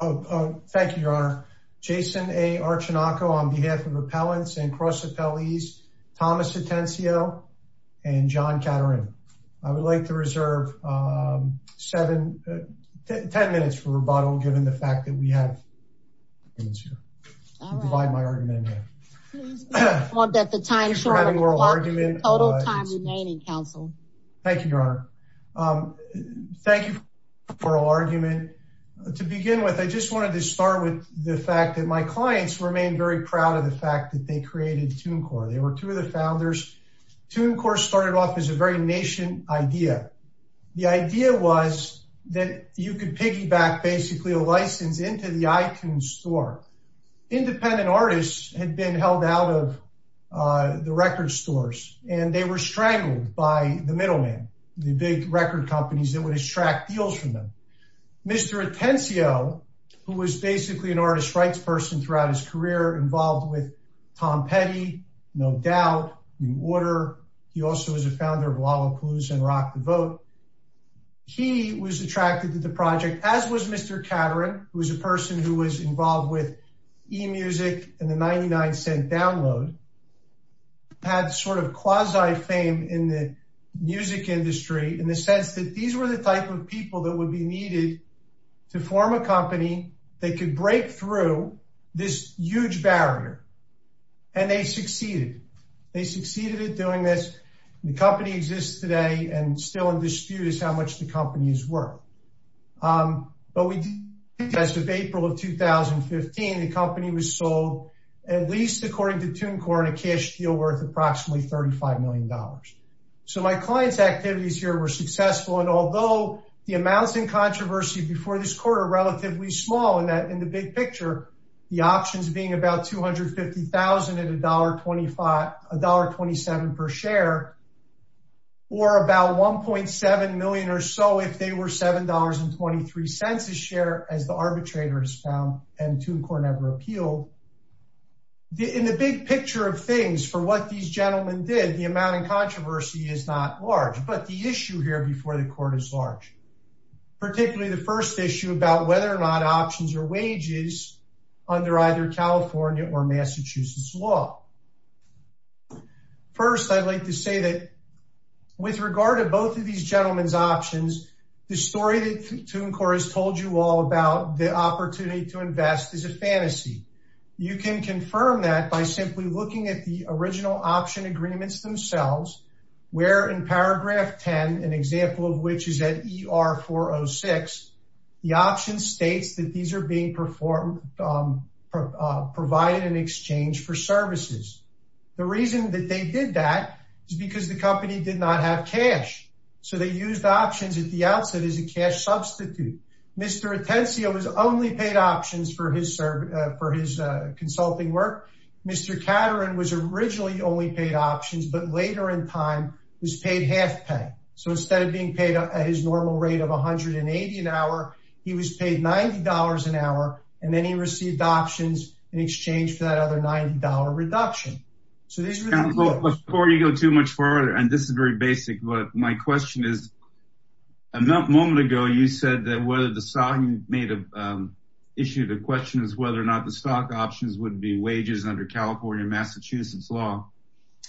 Thank you, Your Honor. Jason A. Archinoco on behalf of Appellants and Cross Appellees, Thomas Atencio, and John Caterin. I would like to reserve ten minutes for rebuttal given the fact that we have arguments here. I'll divide my argument here. Thank you for having oral argument. Thank you, Your Honor. Thank you for oral argument. To begin with, I just wanted to start with the fact that my clients remain very proud of the fact that they created Tunecore. They were two of the founders. Tunecore started off as a very nation idea. The idea was that you could piggyback basically a license into the iTunes store. Independent artists had been held out of the record stores, and they were strangled by the middlemen, the big record companies that would extract deals from them. Mr. Atencio, who was basically an artist rights person throughout his career, involved with Tom Petty, No Doubt, New Order. He also was a founder of Lollapalooza and Rock the Vote. He was attracted to the project, as was Mr. Caterin, who was a person who was involved with eMusic and the 99-Cent Download. They had sort of quasi-fame in the music industry in the sense that these were the type of people that would be needed to form a company that could break through this huge barrier. And they succeeded. They succeeded at doing this. The company exists today and still in dispute as to how much the companies were. But as of April of 2015, the company was sold, at least according to Tunecore, in a cash deal worth approximately $35 million. So my client's activities here were successful. And although the amounts in controversy before this court are relatively small in the big picture, the options being about $250,000 and $1.27 per share, or about $1.7 million or so if they were $7.23 a share, as the arbitrators found and Tunecore never appealed. In the big picture of things, for what these gentlemen did, the amount in controversy is not large. But the issue here before the court is large, particularly the first issue about whether or not options are wages under either California or Massachusetts law. First, I'd like to say that with regard to both of these gentlemen's options, the story that Tunecore has told you all about the opportunity to invest is a fantasy. You can confirm that by simply looking at the original option agreements themselves, where in paragraph 10, an example of which is at ER-406, the option states that these are being provided in exchange for services. The reason that they did that is because the company did not have cash. So they used options at the outset as a cash substitute. Mr. Atencio was only paid options for his consulting work. Mr. Caterin was originally only paid options, but later in time was paid half pay. So instead of being paid at his normal rate of $180 an hour, he was paid $90 an hour, and then he received options in exchange for that other $90 reduction. Before you go too much further, and this is very basic, but my question is, a moment ago you said that whether the stock options would be wages under California or Massachusetts law.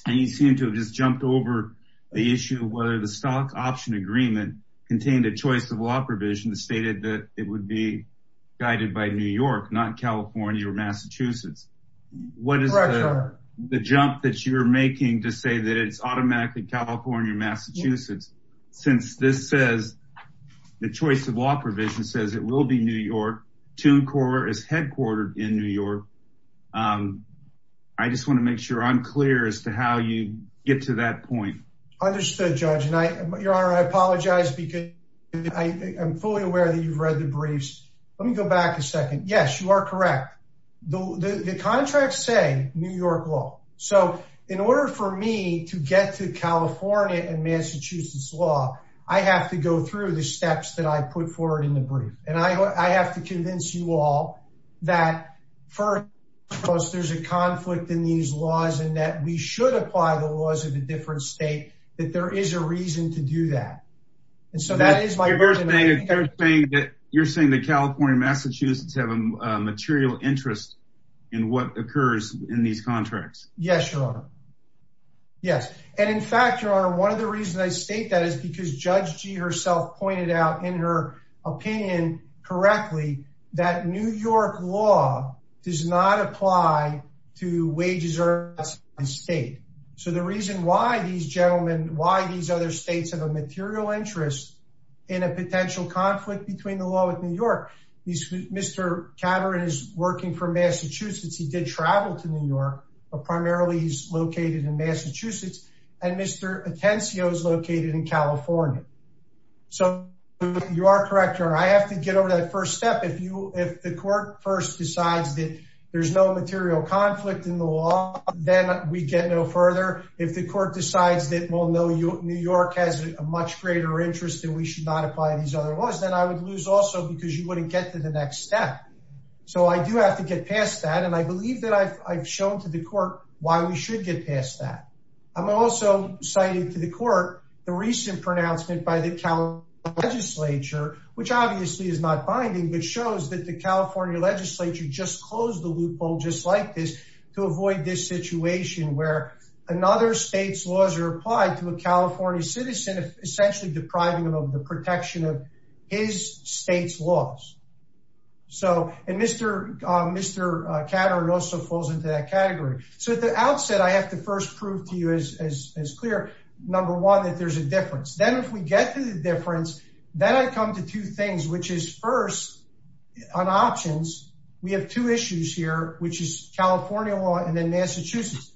And you seem to have just jumped over the issue of whether the stock option agreement contained a choice of law provision that stated that it would be guided by New York, not California or Massachusetts. What is the jump that you're making to say that it's automatically California or Massachusetts? Since this says, the choice of law provision says it will be New York, Toon Corp is headquartered in New York. I just want to make sure I'm clear as to how you get to that point. Understood, Judge. Your Honor, I apologize because I am fully aware that you've read the briefs. Let me go back a second. Yes, you are correct. The contracts say New York law. So in order for me to get to California and Massachusetts law, I have to go through the steps that I put forward in the brief. And I have to convince you all that first, there's a conflict in these laws and that we should apply the laws of a different state, that there is a reason to do that. You're saying that California and Massachusetts have a material interest in what occurs in these contracts. Yes, Your Honor. Yes. And in fact, Your Honor, one of the reasons I state that is because Judge G herself pointed out in her opinion correctly that New York law does not apply to wages or states. So the reason why these gentlemen, why these other states have a material interest in a potential conflict between the law with New York. Mr. Cameron is working for Massachusetts. He did travel to New York, but primarily he's located in Massachusetts. And Mr. Atencio is located in California. So you are correct, Your Honor. I have to get over that first step. If the court first decides that there's no material conflict in the law, then we get no further. If the court decides that New York has a much greater interest and we should not apply these other laws, then I would lose also because you wouldn't get to the next step. So I do have to get past that. And I believe that I've shown to the court why we should get past that. I'm also citing to the court the recent pronouncement by the California legislature, which obviously is not binding, but shows that the California legislature just closed the loophole just like this to avoid this situation where another state's laws are applied to a California citizen, essentially depriving them of the protection of his state's laws. So, and Mr. Cameron also falls into that category. So at the outset, I have to first prove to you as clear, number one, that there's a difference. Then if we get to the difference, then I come to two things, which is first, on options, we have two issues here, which is California law and then Massachusetts.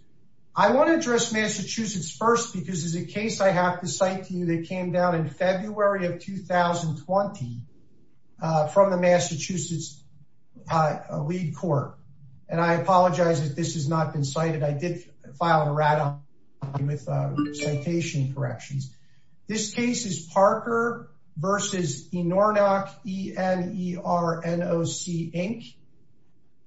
I want to address Massachusetts first, because there's a case I have to cite to you that came down in February of 2020 from the Massachusetts lead court. And I apologize that this has not been cited. I did file a rat on you with citation corrections. This case is Parker versus Inornock, E-N-E-R-N-O-C, Inc.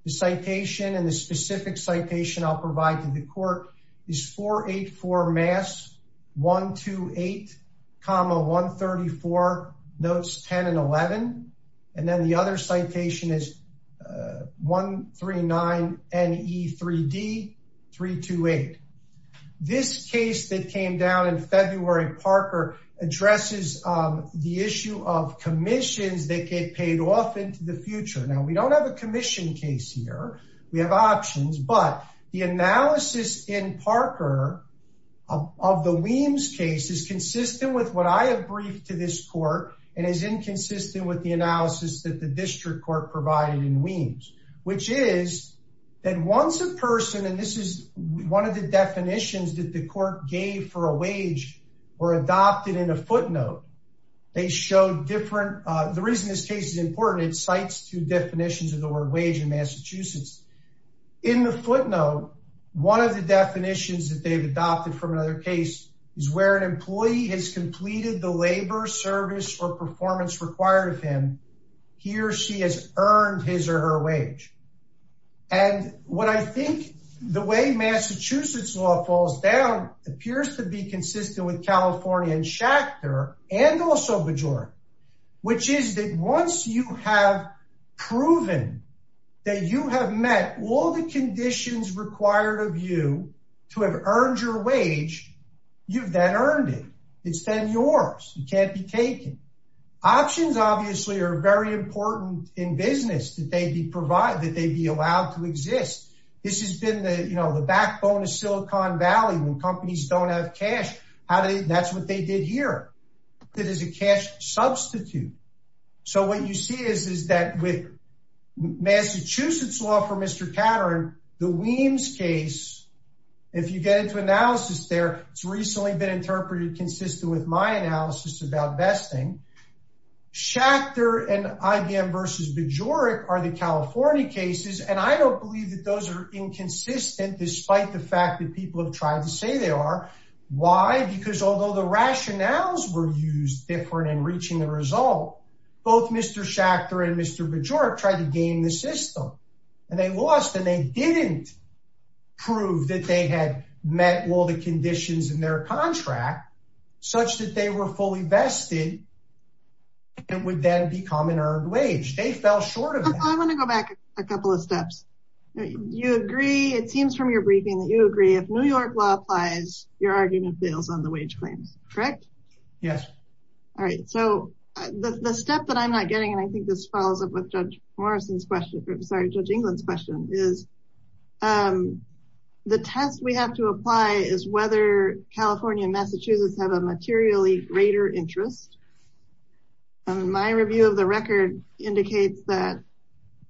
The citation and the specific citation I'll provide to the court is 484 Mass, 128 comma 134, notes 10 and 11. And then the other citation is 139 N-E-3-D, 328. This case that came down in February, Parker addresses the issue of commissions that get paid off into the future. Now, we don't have a commission case here. We have options, but the analysis in Parker of the Weems case is consistent with what I have briefed to this court and is inconsistent with the analysis that the district court provided in Weems. Which is that once a person, and this is one of the definitions that the court gave for a wage or adopted in a footnote, they showed different. The reason this case is important, it cites two definitions of the word wage in Massachusetts. In the footnote, one of the definitions that they've adopted from another case is where an employee has completed the labor, service, or performance required of him, he or she has earned his or her wage. And what I think the way Massachusetts law falls down appears to be consistent with California and Schachter and also Bajoran. Which is that once you have proven that you have met all the conditions required of you to have earned your wage, you've then earned it. It's then yours. It can't be taken. Options obviously are very important in business that they be allowed to exist. This has been the backbone of Silicon Valley when companies don't have cash. That's what they did here. It is a cash substitute. So what you see is that with Massachusetts law for Mr. Caterin, the Weems case, if you get into analysis there, it's recently been interpreted consistent with my analysis about vesting. Schachter and IBM versus Bajoran are the California cases, and I don't believe that those are inconsistent despite the fact that people have tried to say they are. Why? Because although the rationales were used different in reaching the result, both Mr. Schachter and Mr. Bajoran tried to game the system. And they lost and they didn't prove that they had met all the conditions in their contract such that they were fully vested and would then become an earned wage. They fell short of that. I want to go back a couple of steps. You agree. It seems from your briefing that you agree if New York law applies, your argument fails on the wage claims, correct? Yes. All right. So the step that I'm not getting, and I think this follows up with Judge Morrison's question, sorry, Judge England's question, is the test we have to apply is whether California and Massachusetts have a materially greater interest. My review of the record indicates that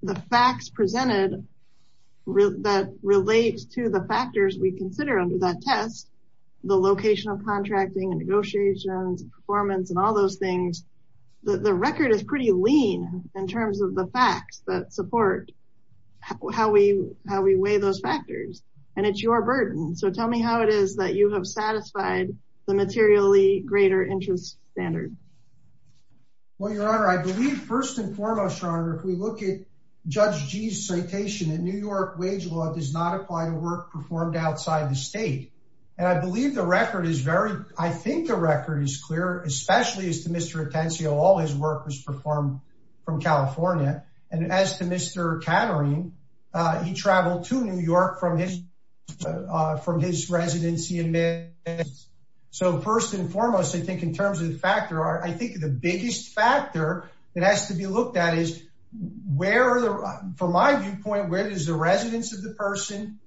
the facts presented that relate to the factors we consider under that test, the location of contracting and negotiations and performance and all those things, the record is pretty lean in terms of the facts that support how we weigh those factors. And it's your burden. So tell me how it is that you have satisfied the materially greater interest standard. Well, Your Honor, I believe first and foremost, Your Honor, if we look at Judge Gee's citation in New York, wage law does not apply to work performed outside the state. And I believe the record is very, I think the record is clear, especially as to Mr. Tensio, all his work was performed from California. And as to Mr. Katerine, he traveled to New York from his residency in Mississippi. So first and foremost, I think in terms of the factor, I think the biggest factor that has to be looked at is where, from my viewpoint, where is the residence of the person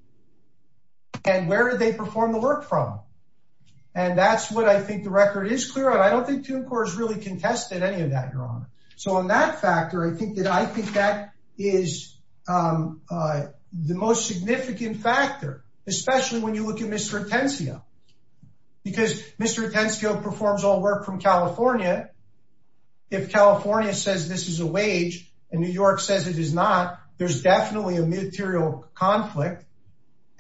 and where did they perform the work from? And that's what I think the record is clear on. But I don't think Toon Corps has really contested any of that, Your Honor. So on that factor, I think that I think that is the most significant factor, especially when you look at Mr. Tensio, because Mr. Tensio performs all work from California. If California says this is a wage and New York says it is not, there's definitely a material conflict.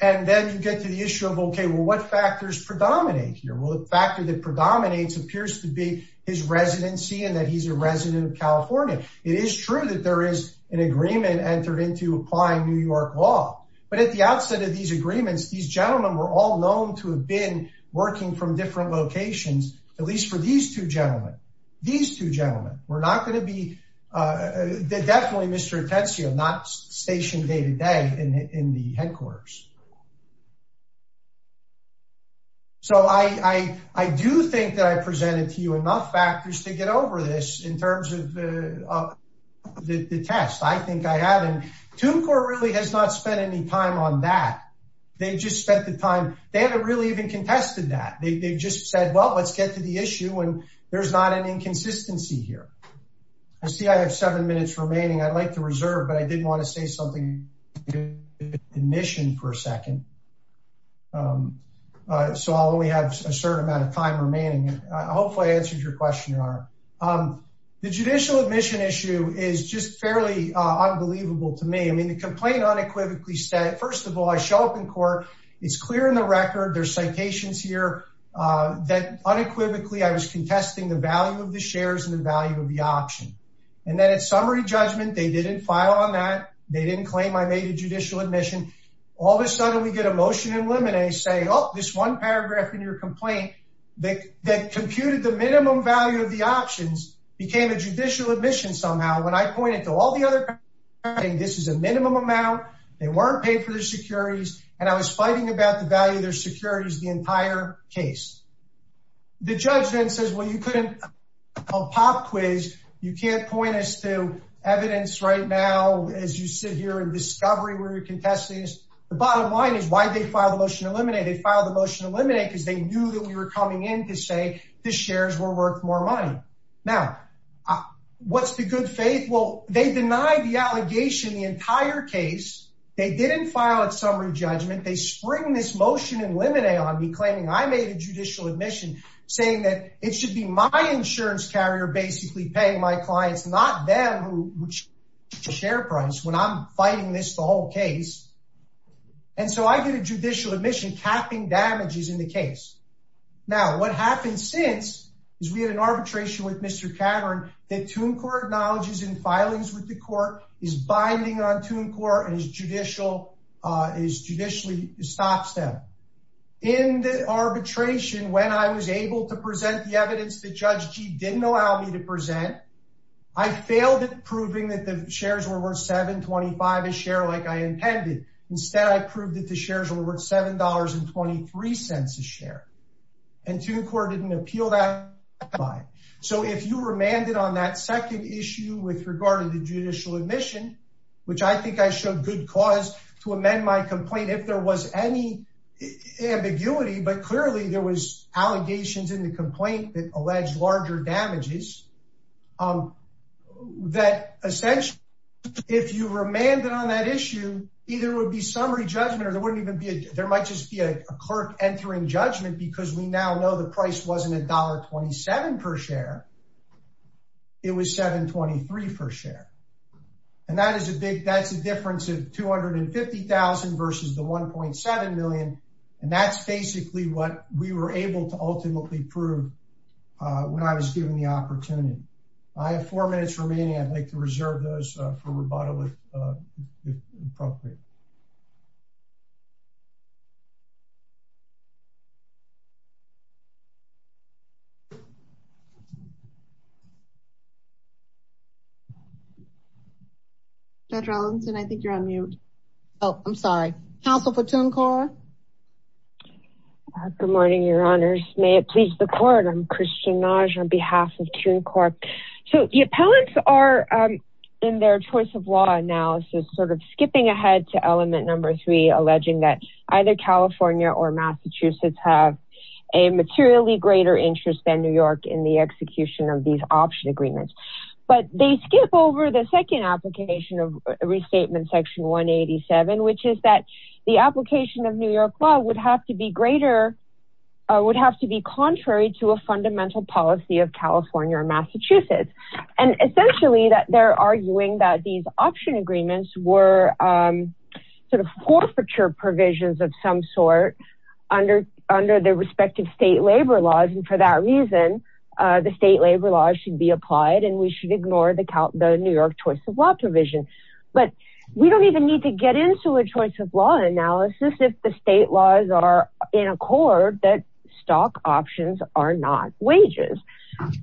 And then you get to the issue of, OK, well, what factors predominate here? Well, the factor that predominates appears to be his residency and that he's a resident of California. It is true that there is an agreement entered into applying New York law. But at the outset of these agreements, these gentlemen were all known to have been working from different locations, at least for these two gentlemen. These two gentlemen were not going to be definitely Mr. Tensio, not stationed day to day in the headquarters. So I do think that I presented to you enough factors to get over this in terms of the test. I think I haven't. Toon Corps really has not spent any time on that. They just spent the time. They haven't really even contested that. They just said, well, let's get to the issue. And there's not an inconsistency here. I see I have seven minutes remaining. I'd like to reserve. But I didn't want to say something. Mission for a second. So all we have a certain amount of time remaining. Hopefully I answered your question. The judicial admission issue is just fairly unbelievable to me. I mean, the complaint unequivocally said, first of all, I show up in court. It's clear in the record. There's citations here that unequivocally I was contesting the value of the shares and the value of the option. And then at summary judgment, they didn't file on that. They didn't claim I made a judicial admission. All of a sudden we get a motion in limine saying, oh, this one paragraph in your complaint that computed the minimum value of the options became a judicial admission somehow. When I pointed to all the other, this is a minimum amount. They weren't paying for their securities. And I was fighting about the value of their securities the entire case. The judge then says, well, you couldn't pop quiz. You can't point us to evidence right now. As you sit here and discovery where you're contesting this. The bottom line is why they filed a motion to eliminate. They filed a motion to eliminate because they knew that we were coming in to say the shares were worth more money. Now, what's the good faith? Well, they denied the allegation the entire case. They didn't file a summary judgment. They spring this motion in limine on me, claiming I made a judicial admission, saying that it should be my insurance carrier basically paying my clients, not them, which share price when I'm fighting this the whole case. And so I get a judicial admission capping damages in the case. Now, what happened since is we had an arbitration with Mr. Cameron. The two court knowledges in filings with the court is binding on two in court and his judicial is judicially stops them in the arbitration. When I was able to present the evidence, the judge didn't allow me to present. I failed at proving that the shares were worth 725 a share like I intended. Instead, I proved that the shares were worth $7.23 a share. And two court didn't appeal that by. So if you remanded on that second issue with regard to the judicial admission, which I think I showed good cause to amend my complaint if there was any ambiguity. But clearly there was allegations in the complaint that alleged larger damages that essentially, if you remanded on that issue, either would be summary judgment or there wouldn't even be there might just be a clerk entering judgment because we now know the price wasn't $1.27 per share. It was 723 per share. And that is a big, that's a difference of 250,000 versus the 1.7 million. And that's basically what we were able to ultimately prove when I was given the opportunity. I have four minutes remaining. I'd like to reserve those for rebuttal if appropriate. Dr. Ellison, I think you're on mute. Oh, I'm sorry. Counsel for TuneCorp. Good morning, Your Honors. May it please the court. I'm Christian Nagy on behalf of TuneCorp. So the appellants are in their choice of law analysis sort of skipping ahead to element number three, alleging that either California or Massachusetts have a materially greater interest than New York in the execution of these option agreements. But they skip over the second application of restatement section 187, which is that the application of New York law would have to be greater, would have to be contrary to a fundamental policy of California or Massachusetts. And essentially that they're arguing that these option agreements were sort of forfeiture provisions of some sort under their respective state labor laws. And for that reason, the state labor laws should be applied and we should ignore the New York choice of law provision. But we don't even need to get into a choice of law analysis if the state laws are in accord that stock options are not wages.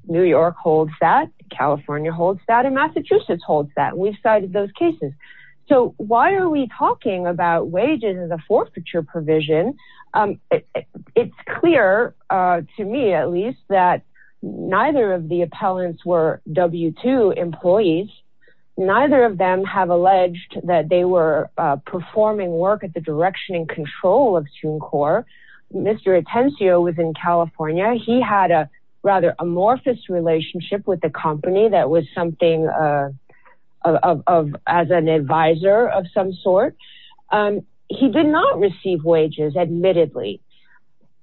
New York holds that. California holds that. And Massachusetts holds that. We've cited those cases. So why are we talking about wages as a forfeiture provision? It's clear to me, at least, that neither of the appellants were W-2 employees. Neither of them have alleged that they were performing work at the direction and control of TuneCorp. Mr. Atencio was in California. He had a rather amorphous relationship with the company that was something of, as an advisor of some sort. He did not receive wages, admittedly.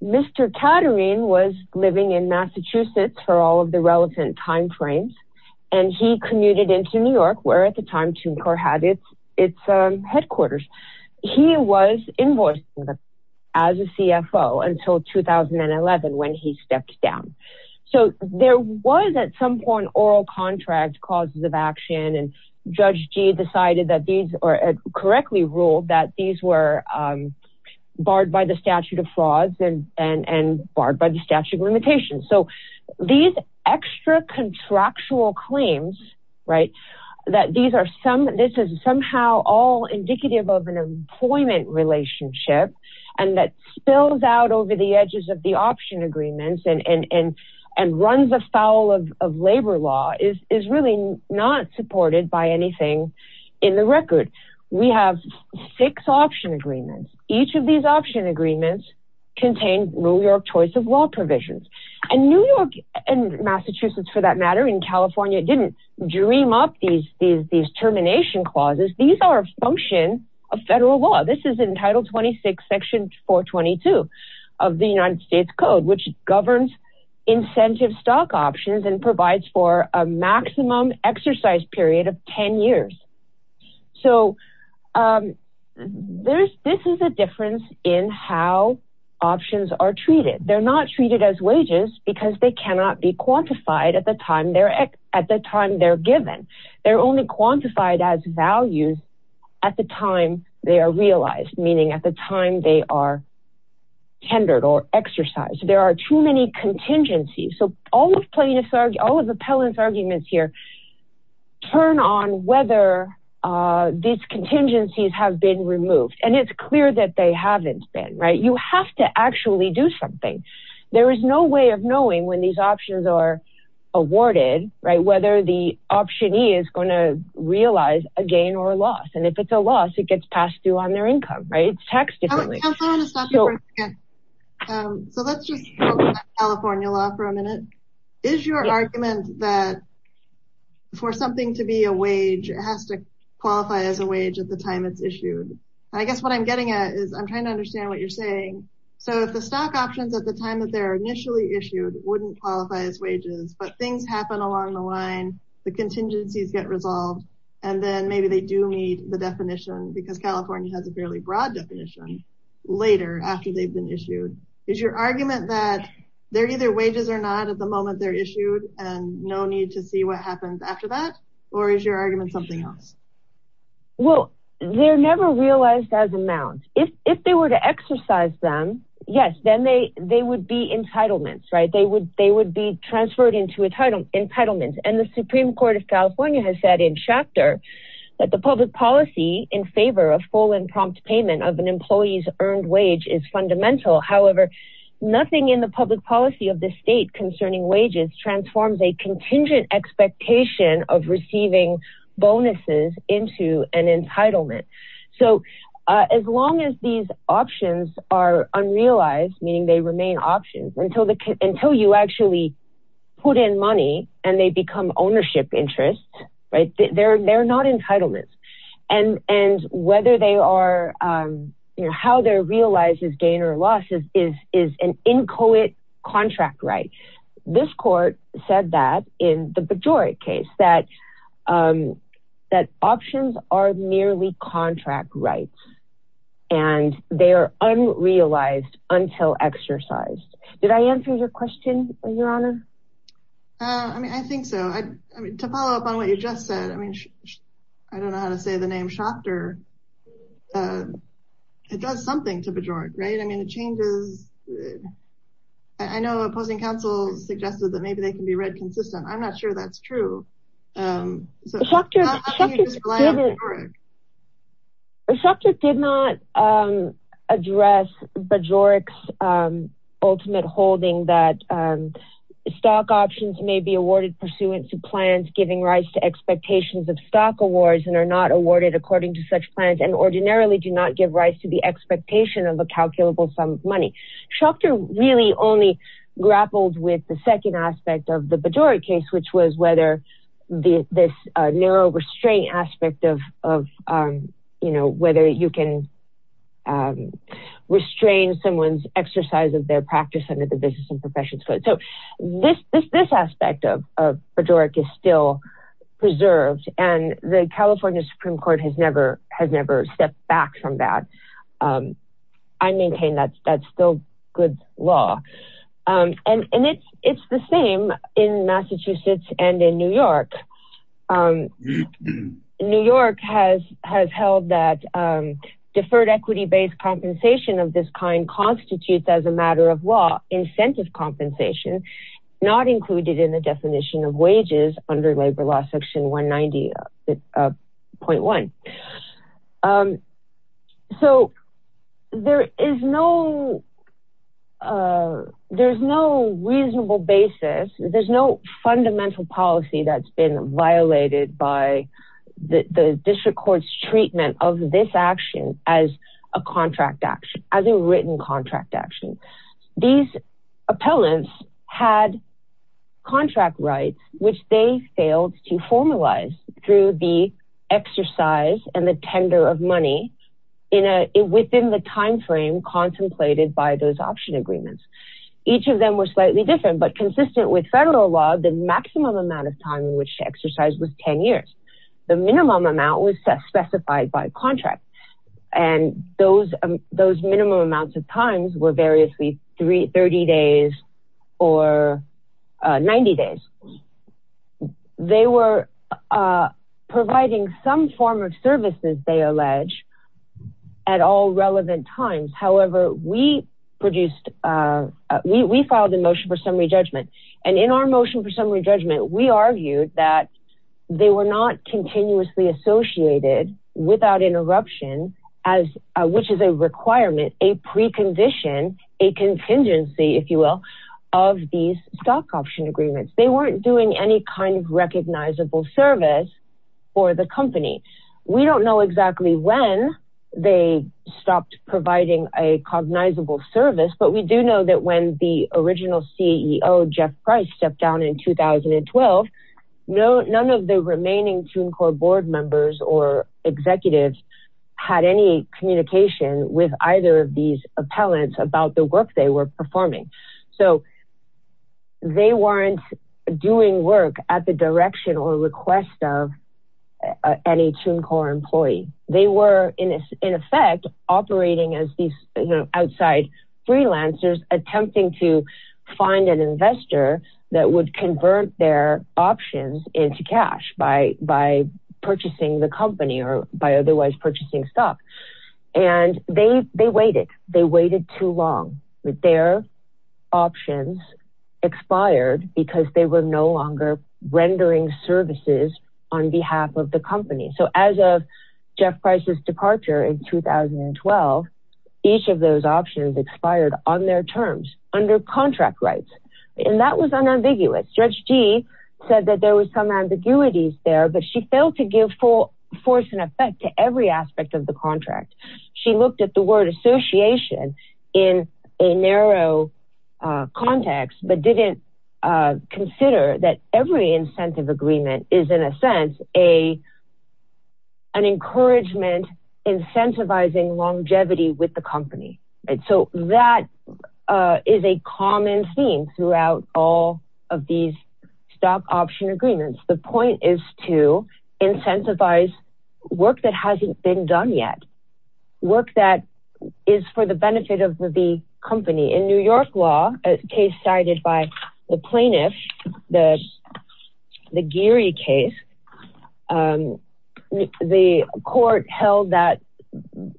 Mr. Caterine was living in Massachusetts for all of the relevant time frames. And he commuted into New York, where at the time TuneCorp had its headquarters. He was invoicing them as a CFO until 2011, when he stepped down. So there was, at some point, oral contract causes of action. And Judge G decided that these, or correctly ruled that these were barred by the statute of frauds and barred by the statute of limitations. So these extra contractual claims, right, that this is somehow all indicative of an employment relationship, and that spills out over the edges of the option agreements and runs afoul of labor law, is really not supported by anything in the record. We have six option agreements. Each of these option agreements contain New York choice of law provisions. And New York, and Massachusetts for that matter, and California didn't dream up these termination clauses. These are a function of federal law. This is in Title 26, Section 422 of the United States Code, which governs incentive stock options and provides for a maximum exercise period of 10 years. So this is a difference in how options are treated. They're not treated as wages, because they cannot be quantified at the time they're given. They're only quantified as values at the time they are realized, meaning at the time they are tendered or exercised. There are too many contingencies. So all of Appellant's arguments here turn on whether these contingencies have been removed. And it's clear that they haven't been, right? You have to actually do something. There is no way of knowing when these options are awarded, right, whether the optionee is going to realize a gain or a loss. And if it's a loss, it gets passed due on their income, right? It's taxed differently. So let's just talk about California law for a minute. Is your argument that for something to be a wage, it has to qualify as a wage at the time it's issued? I guess what I'm getting at is I'm trying to understand what you're saying. So if the stock options at the time that they're initially issued wouldn't qualify as wages, but things happen along the line, the contingencies get resolved, and then maybe they do meet the definition because California has a fairly broad definition later after they've been issued, is your argument that they're either wages or not at the moment they're issued and no need to see what happens after that? Or is your argument something else? Well, they're never realized as amounts. If they were to exercise them, yes, then they would be entitlements, right? They would be transferred into entitlement. And the Supreme Court of California has said in chapter that the public policy in favor of full and prompt payment of an employee's earned wage is fundamental. However, nothing in the public policy of the state concerning wages transforms a contingent expectation of receiving bonuses into an entitlement. So as long as these options are unrealized, meaning they remain options, until you actually put in money and they become ownership interests, they're not entitlements. And how they're realized as gain or loss is an inchoate contract right. This court said that in the Pejori case, that options are merely contract rights, and they are unrealized until exercised. Did I answer your question, Your Honor? I think so. To follow up on what you just said, I mean, I don't know how to say the name Schachter. It does something to Pejoric, right? I mean, it changes. I know opposing counsel suggested that maybe they can be read consistent. I'm not sure that's true. Schachter did not address Pejoric's ultimate holding that stock options may be awarded pursuant to plans giving rise to expectations of stock awards, and are not awarded according to such plans, and ordinarily do not give rise to the expectation of a calculable sum of money. Schachter really only grappled with the second aspect of the Pejoric case, which was whether this narrow restraint aspect of whether you can restrain someone's exercise of their practice under the business and professions code. So this aspect of Pejoric is still preserved, and the California Supreme Court has never stepped back from that. I maintain that's still good law. And it's the same in Massachusetts and in New York. New York has held that deferred equity-based compensation of this kind constitutes, as a matter of law, incentive compensation, not included in the definition of wages under labor law section 190.1. So there is no reasonable basis. There's no fundamental policy that's been violated by the district court's treatment of this action as a contract action, as a written contract action. These appellants had contract rights, which they failed to formalize through the exercise and the tender of money within the timeframe contemplated by those option agreements. Each of them were slightly different, but consistent with federal law, the maximum amount of time in which to exercise was 10 years. The minimum amount was specified by contract, and those minimum amounts of times were variously 30 days or 90 days. They were providing some form of services, they allege, at all relevant times. However, we filed a motion for summary judgment, and in our motion for summary judgment, we argued that they were not continuously associated without interruption, which is a requirement, a precondition, a contingency, if you will, of these stock option agreements. They weren't doing any kind of recognizable service for the company. We don't know exactly when they stopped providing a cognizable service, but we do know that when the original CEO, Jeff Price, stepped down in 2012, none of the remaining TUNCOR board members or executives had any communication with either of these appellants about the work they were performing. They weren't doing work at the direction or request of any TUNCOR employee. They were, in effect, operating as these outside freelancers attempting to find an investor that would convert their options into cash by purchasing the company or by otherwise purchasing stock. They waited. They waited too long. Their options expired because they were no longer rendering services on behalf of the company. As of Jeff Price's departure in 2012, each of those options expired on their terms under contract rights, and that was unambiguous. Judge Gee said that there were some ambiguities there, but she failed to give full force and effect to every aspect of the contract. She looked at the word association in a narrow context but didn't consider that every incentive agreement is, in a sense, an encouragement incentivizing longevity with the company. That is a common theme throughout all of these stock option agreements. The point is to incentivize work that hasn't been done yet, work that is for the benefit of the company. In New York law, a case cited by the plaintiff, the Geary case, the court held that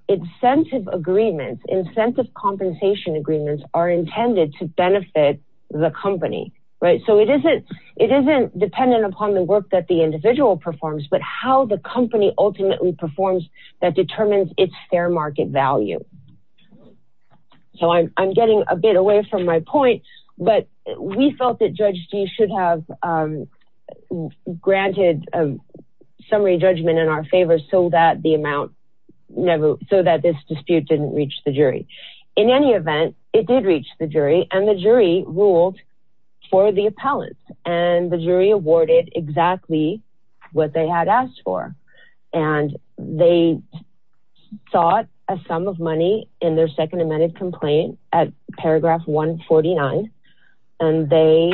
incentive agreements, incentive compensation agreements, are intended to benefit the company. It isn't dependent upon the work that the individual performs, but how the company ultimately performs that determines its fair market value. I'm getting a bit away from my point, but we felt that Judge Gee should have granted a summary judgment in our favor so that this dispute didn't reach the jury. In any event, it did reach the jury, and the jury ruled for the appellant. The jury awarded exactly what they had asked for. They sought a sum of money in their second amended complaint at paragraph 149, and they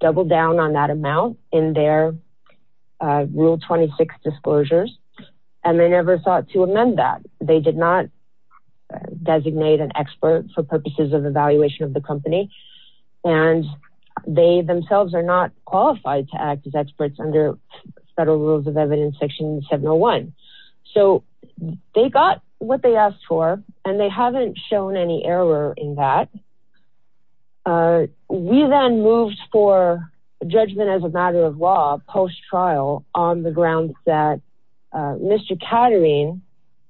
doubled down on that amount in their rule 26 disclosures. They never sought to amend that. They did not designate an expert for purposes of evaluation of the company. They themselves are not qualified to act as experts under federal rules of evidence section 701. They got what they asked for, and they haven't shown any error in that. We then moved for judgment as a matter of law post-trial on the grounds that Mr. Katerine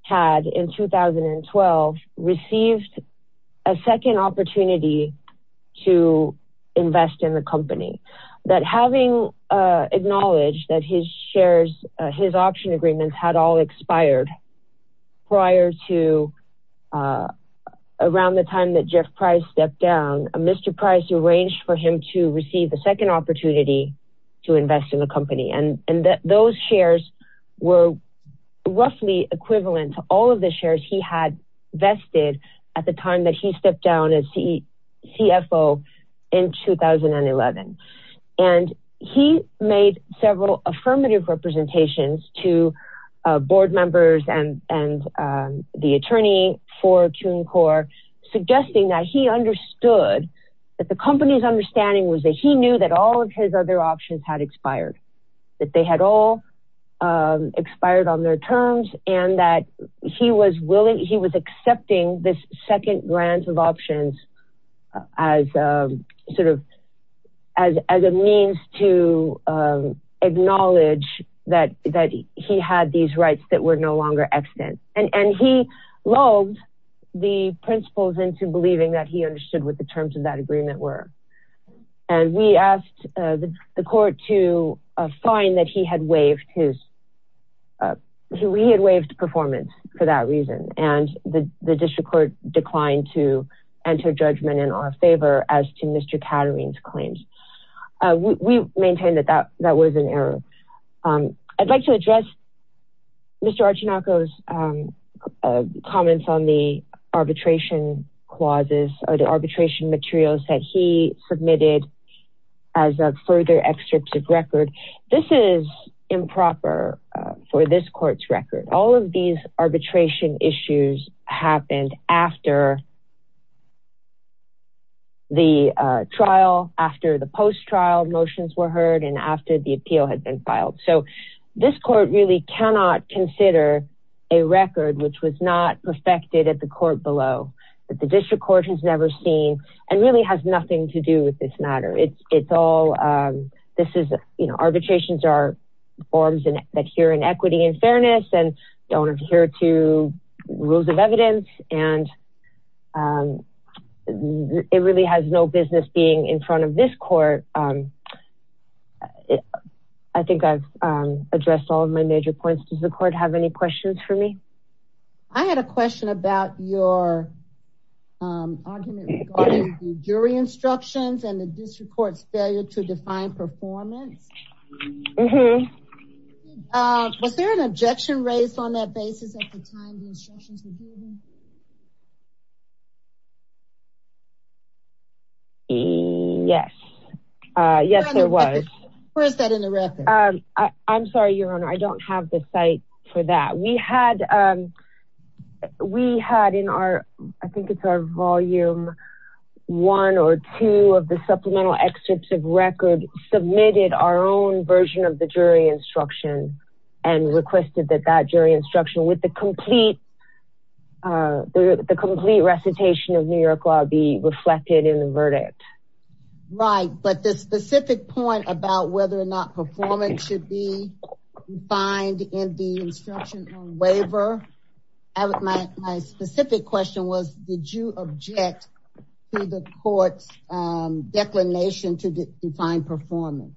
had, in 2012, received a second opportunity to invest in the company. Having acknowledged that his shares, his option agreements had all expired around the time that Jeff Price stepped down, Mr. Price arranged for him to receive a second opportunity to invest in the company. Those shares were roughly equivalent to all of the shares he had vested at the time that he stepped down as CFO in 2011. He made several affirmative representations to board members and the attorney for CUNY Corp, suggesting that he understood that the company's understanding was that he knew that all of his other options had expired. That they had all expired on their terms, and that he was accepting this second grant of options as a means to acknowledge that he had these rights that were no longer extant. He loathed the principles into believing that he understood what the terms of that agreement were. We asked the court to find that he had waived performance for that reason, and the district court declined to enter judgment in our favor as to Mr. Katerine's claims. We maintain that that was an error. I'd like to address Mr. Archinoco's comments on the arbitration clauses or the arbitration materials that he submitted as a further excerpt of record. This is improper for this court's record. All of these arbitration issues happened after the trial, after the post-trial motions were heard, and after the appeal had been filed. So this court really cannot consider a record which was not perfected at the court below, that the district court has never seen, and really has nothing to do with this matter. Arbitrations are forms that adhere in equity and fairness, and don't adhere to rules of evidence, and it really has no business being in front of this court. I think I've addressed all of my major points. Does the court have any questions for me? I had a question about your argument regarding the jury instructions and the district court's failure to define performance. Mm-hmm. Was there an objection raised on that basis at the time the instructions were given? Yes. Yes, there was. Where is that in the record? I'm sorry, Your Honor, I don't have the site for that. We had in our, I think it's our volume one or two of the supplemental excerpts of record, submitted our own version of the jury instruction and requested that that jury instruction with the complete recitation of New York law be reflected in the verdict. Right, but the specific point about whether or not performance should be defined in the instruction on waiver, my specific question was, did you object to the court's declination to define performance?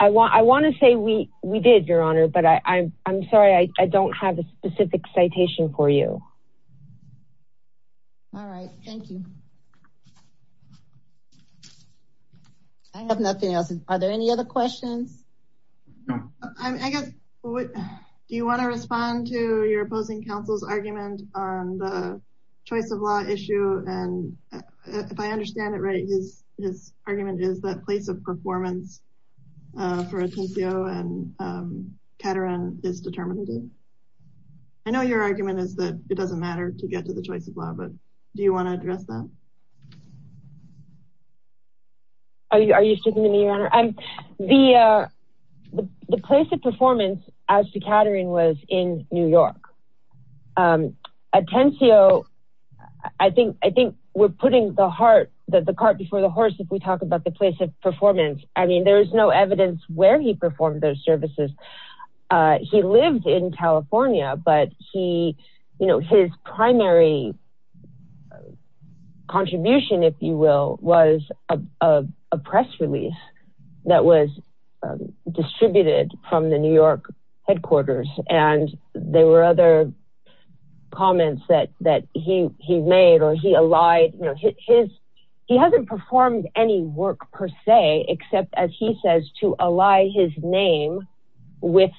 I want to say we did, Your Honor, but I'm sorry, I don't have a specific citation for you. All right, thank you. I have nothing else. Are there any other questions? I guess, do you want to respond to your opposing counsel's argument on the choice of law issue? And if I understand it right, his argument is that place of performance for Atencio and Caterin is determinative. I know your argument is that it doesn't matter to get to the choice of law, but do you want to address that? Are you speaking to me, Your Honor? The place of performance as to Caterin was in New York. Atencio, I think we're putting the heart, the cart before the horse if we talk about the place of performance. I mean, there is no evidence where he performed those services. He lived in California, but his primary contribution, if you will, was a press release that was distributed from the New York headquarters. And there were other comments that he made or he allied. He hasn't performed any work per se, except, as he says, to ally his name with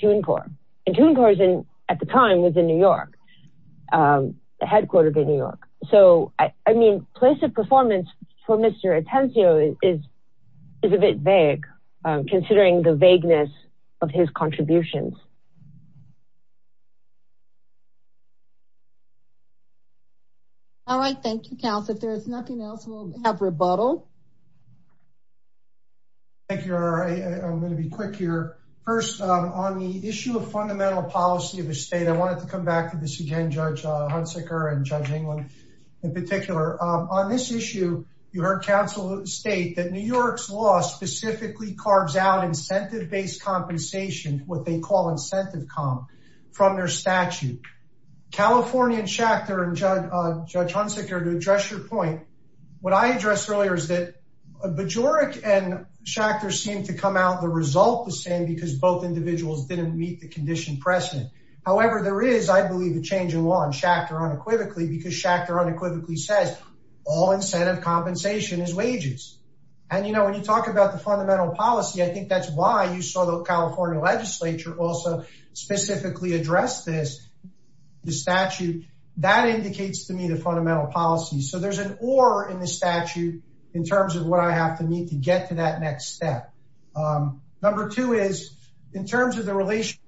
TUNCOR. And TUNCOR at the time was in New York, the headquarters in New York. So, I mean, place of performance for Mr. Atencio is a bit vague, considering the vagueness of his contributions. All right. Thank you, counsel. If there is nothing else, we'll have rebuttal. Thank you, Your Honor. I'm going to be quick here. First, on the issue of fundamental policy of a state, I wanted to come back to this again, Judge Hunsaker and Judge England in particular. On this issue, you heard counsel state that New York's law specifically carves out incentive-based compensation, what they call incentive comp, from their statute. California and Schachter and Judge Hunsaker, to address your point, what I addressed earlier is that Bajoruk and Schachter seemed to come out the result the same because both individuals didn't meet the condition precedent. However, there is, I believe, a change in law in Schachter unequivocally because Schachter unequivocally says all incentive compensation is wages. And, you know, when you talk about the fundamental policy, I think that's why you saw the California legislature also specifically address this statute. That indicates to me the fundamental policy. So there's an or in the statute in terms of what I have to meet to get to that next step. Number two is, in terms of the relationship,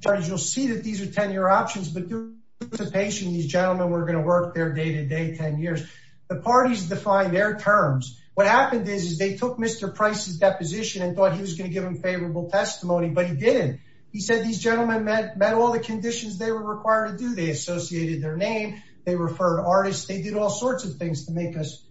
Judge, you'll see that these are 10-year options, but due to participation, these gentlemen were going to work their day-to-day 10 years. The parties defined their terms. What happened is they took Mr. Price's deposition and thought he was going to give him favorable testimony, but he didn't. He said these gentlemen met all the conditions they were required to do. They associated their name. They referred artists. They did all sorts of things to make us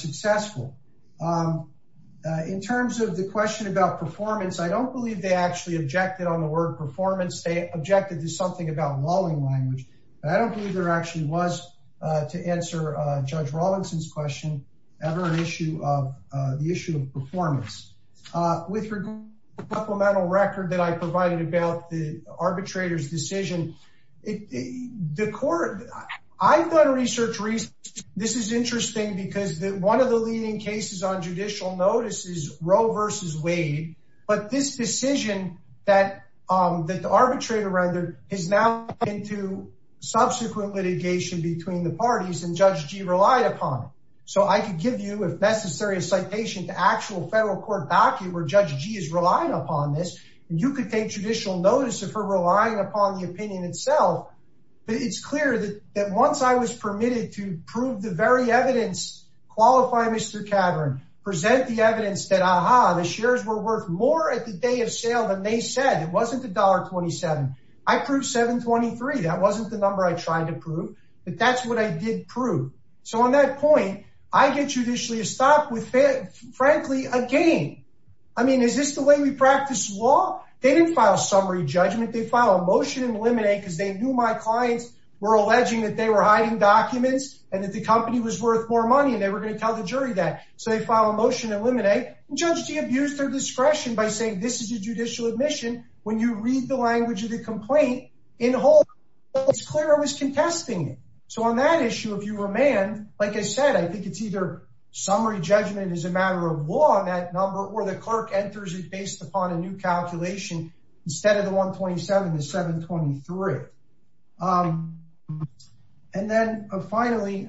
successful. In terms of the question about performance, I don't believe they actually objected on the word performance. They objected to something about walling language. I don't believe there actually was, to answer Judge Robinson's question, ever an issue of the issue of performance. With regard to the supplemental record that I provided about the arbitrator's decision, the court, I've done research. This is interesting because one of the leading cases on judicial notice is Roe versus Wade. But this decision that the arbitrator rendered is now into subsequent litigation between the parties, and Judge Gee relied upon it. So I could give you, if necessary, a citation to actual federal court docket where Judge Gee is relying upon this, and you could take judicial notice of her relying upon the opinion itself. But it's clear that once I was permitted to prove the very evidence, qualify Mr. Cavern, present the evidence that, aha, the shares were worth more at the day of sale than they said, it wasn't $1.27. I proved $7.23. That wasn't the number I tried to prove, but that's what I did prove. So on that point, I get judicially stopped with, frankly, a gain. I mean, is this the way we practice law? They didn't file a summary judgment. They filed a motion to eliminate because they knew my clients were alleging that they were hiding documents and that the company was worth more money, and they were going to tell the jury that. So they filed a motion to eliminate, and Judge Gee abused their discretion by saying this is a judicial admission. When you read the language of the complaint, it's clear I was contesting it. So on that issue, if you remand, like I said, I think it's either summary judgment is a matter of law on that number, or the clerk enters it based upon a new calculation instead of the $1.27, the $7.23. And then finally,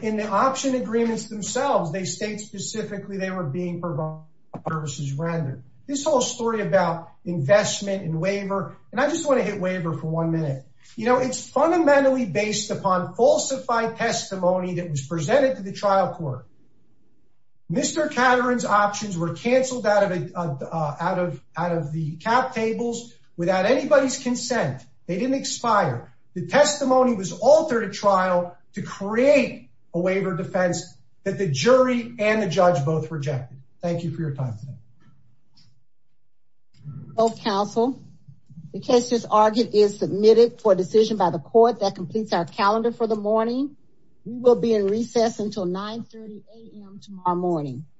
in the option agreements themselves, they state specifically they were being provided services rendered. This whole story about investment and waiver, and I just want to hit waiver for one minute. It's fundamentally based upon falsified testimony that was presented to the trial court. Mr. Caterin's options were canceled out of the cap tables without anybody's consent. They didn't expire. The testimony was altered at trial to create a waiver of defense that the jury and the judge both rejected. Thank you for your time. Both counsel, the case just argued is submitted for decision by the court that completes our calendar for the morning. We will be in recess until 930 a.m. tomorrow morning.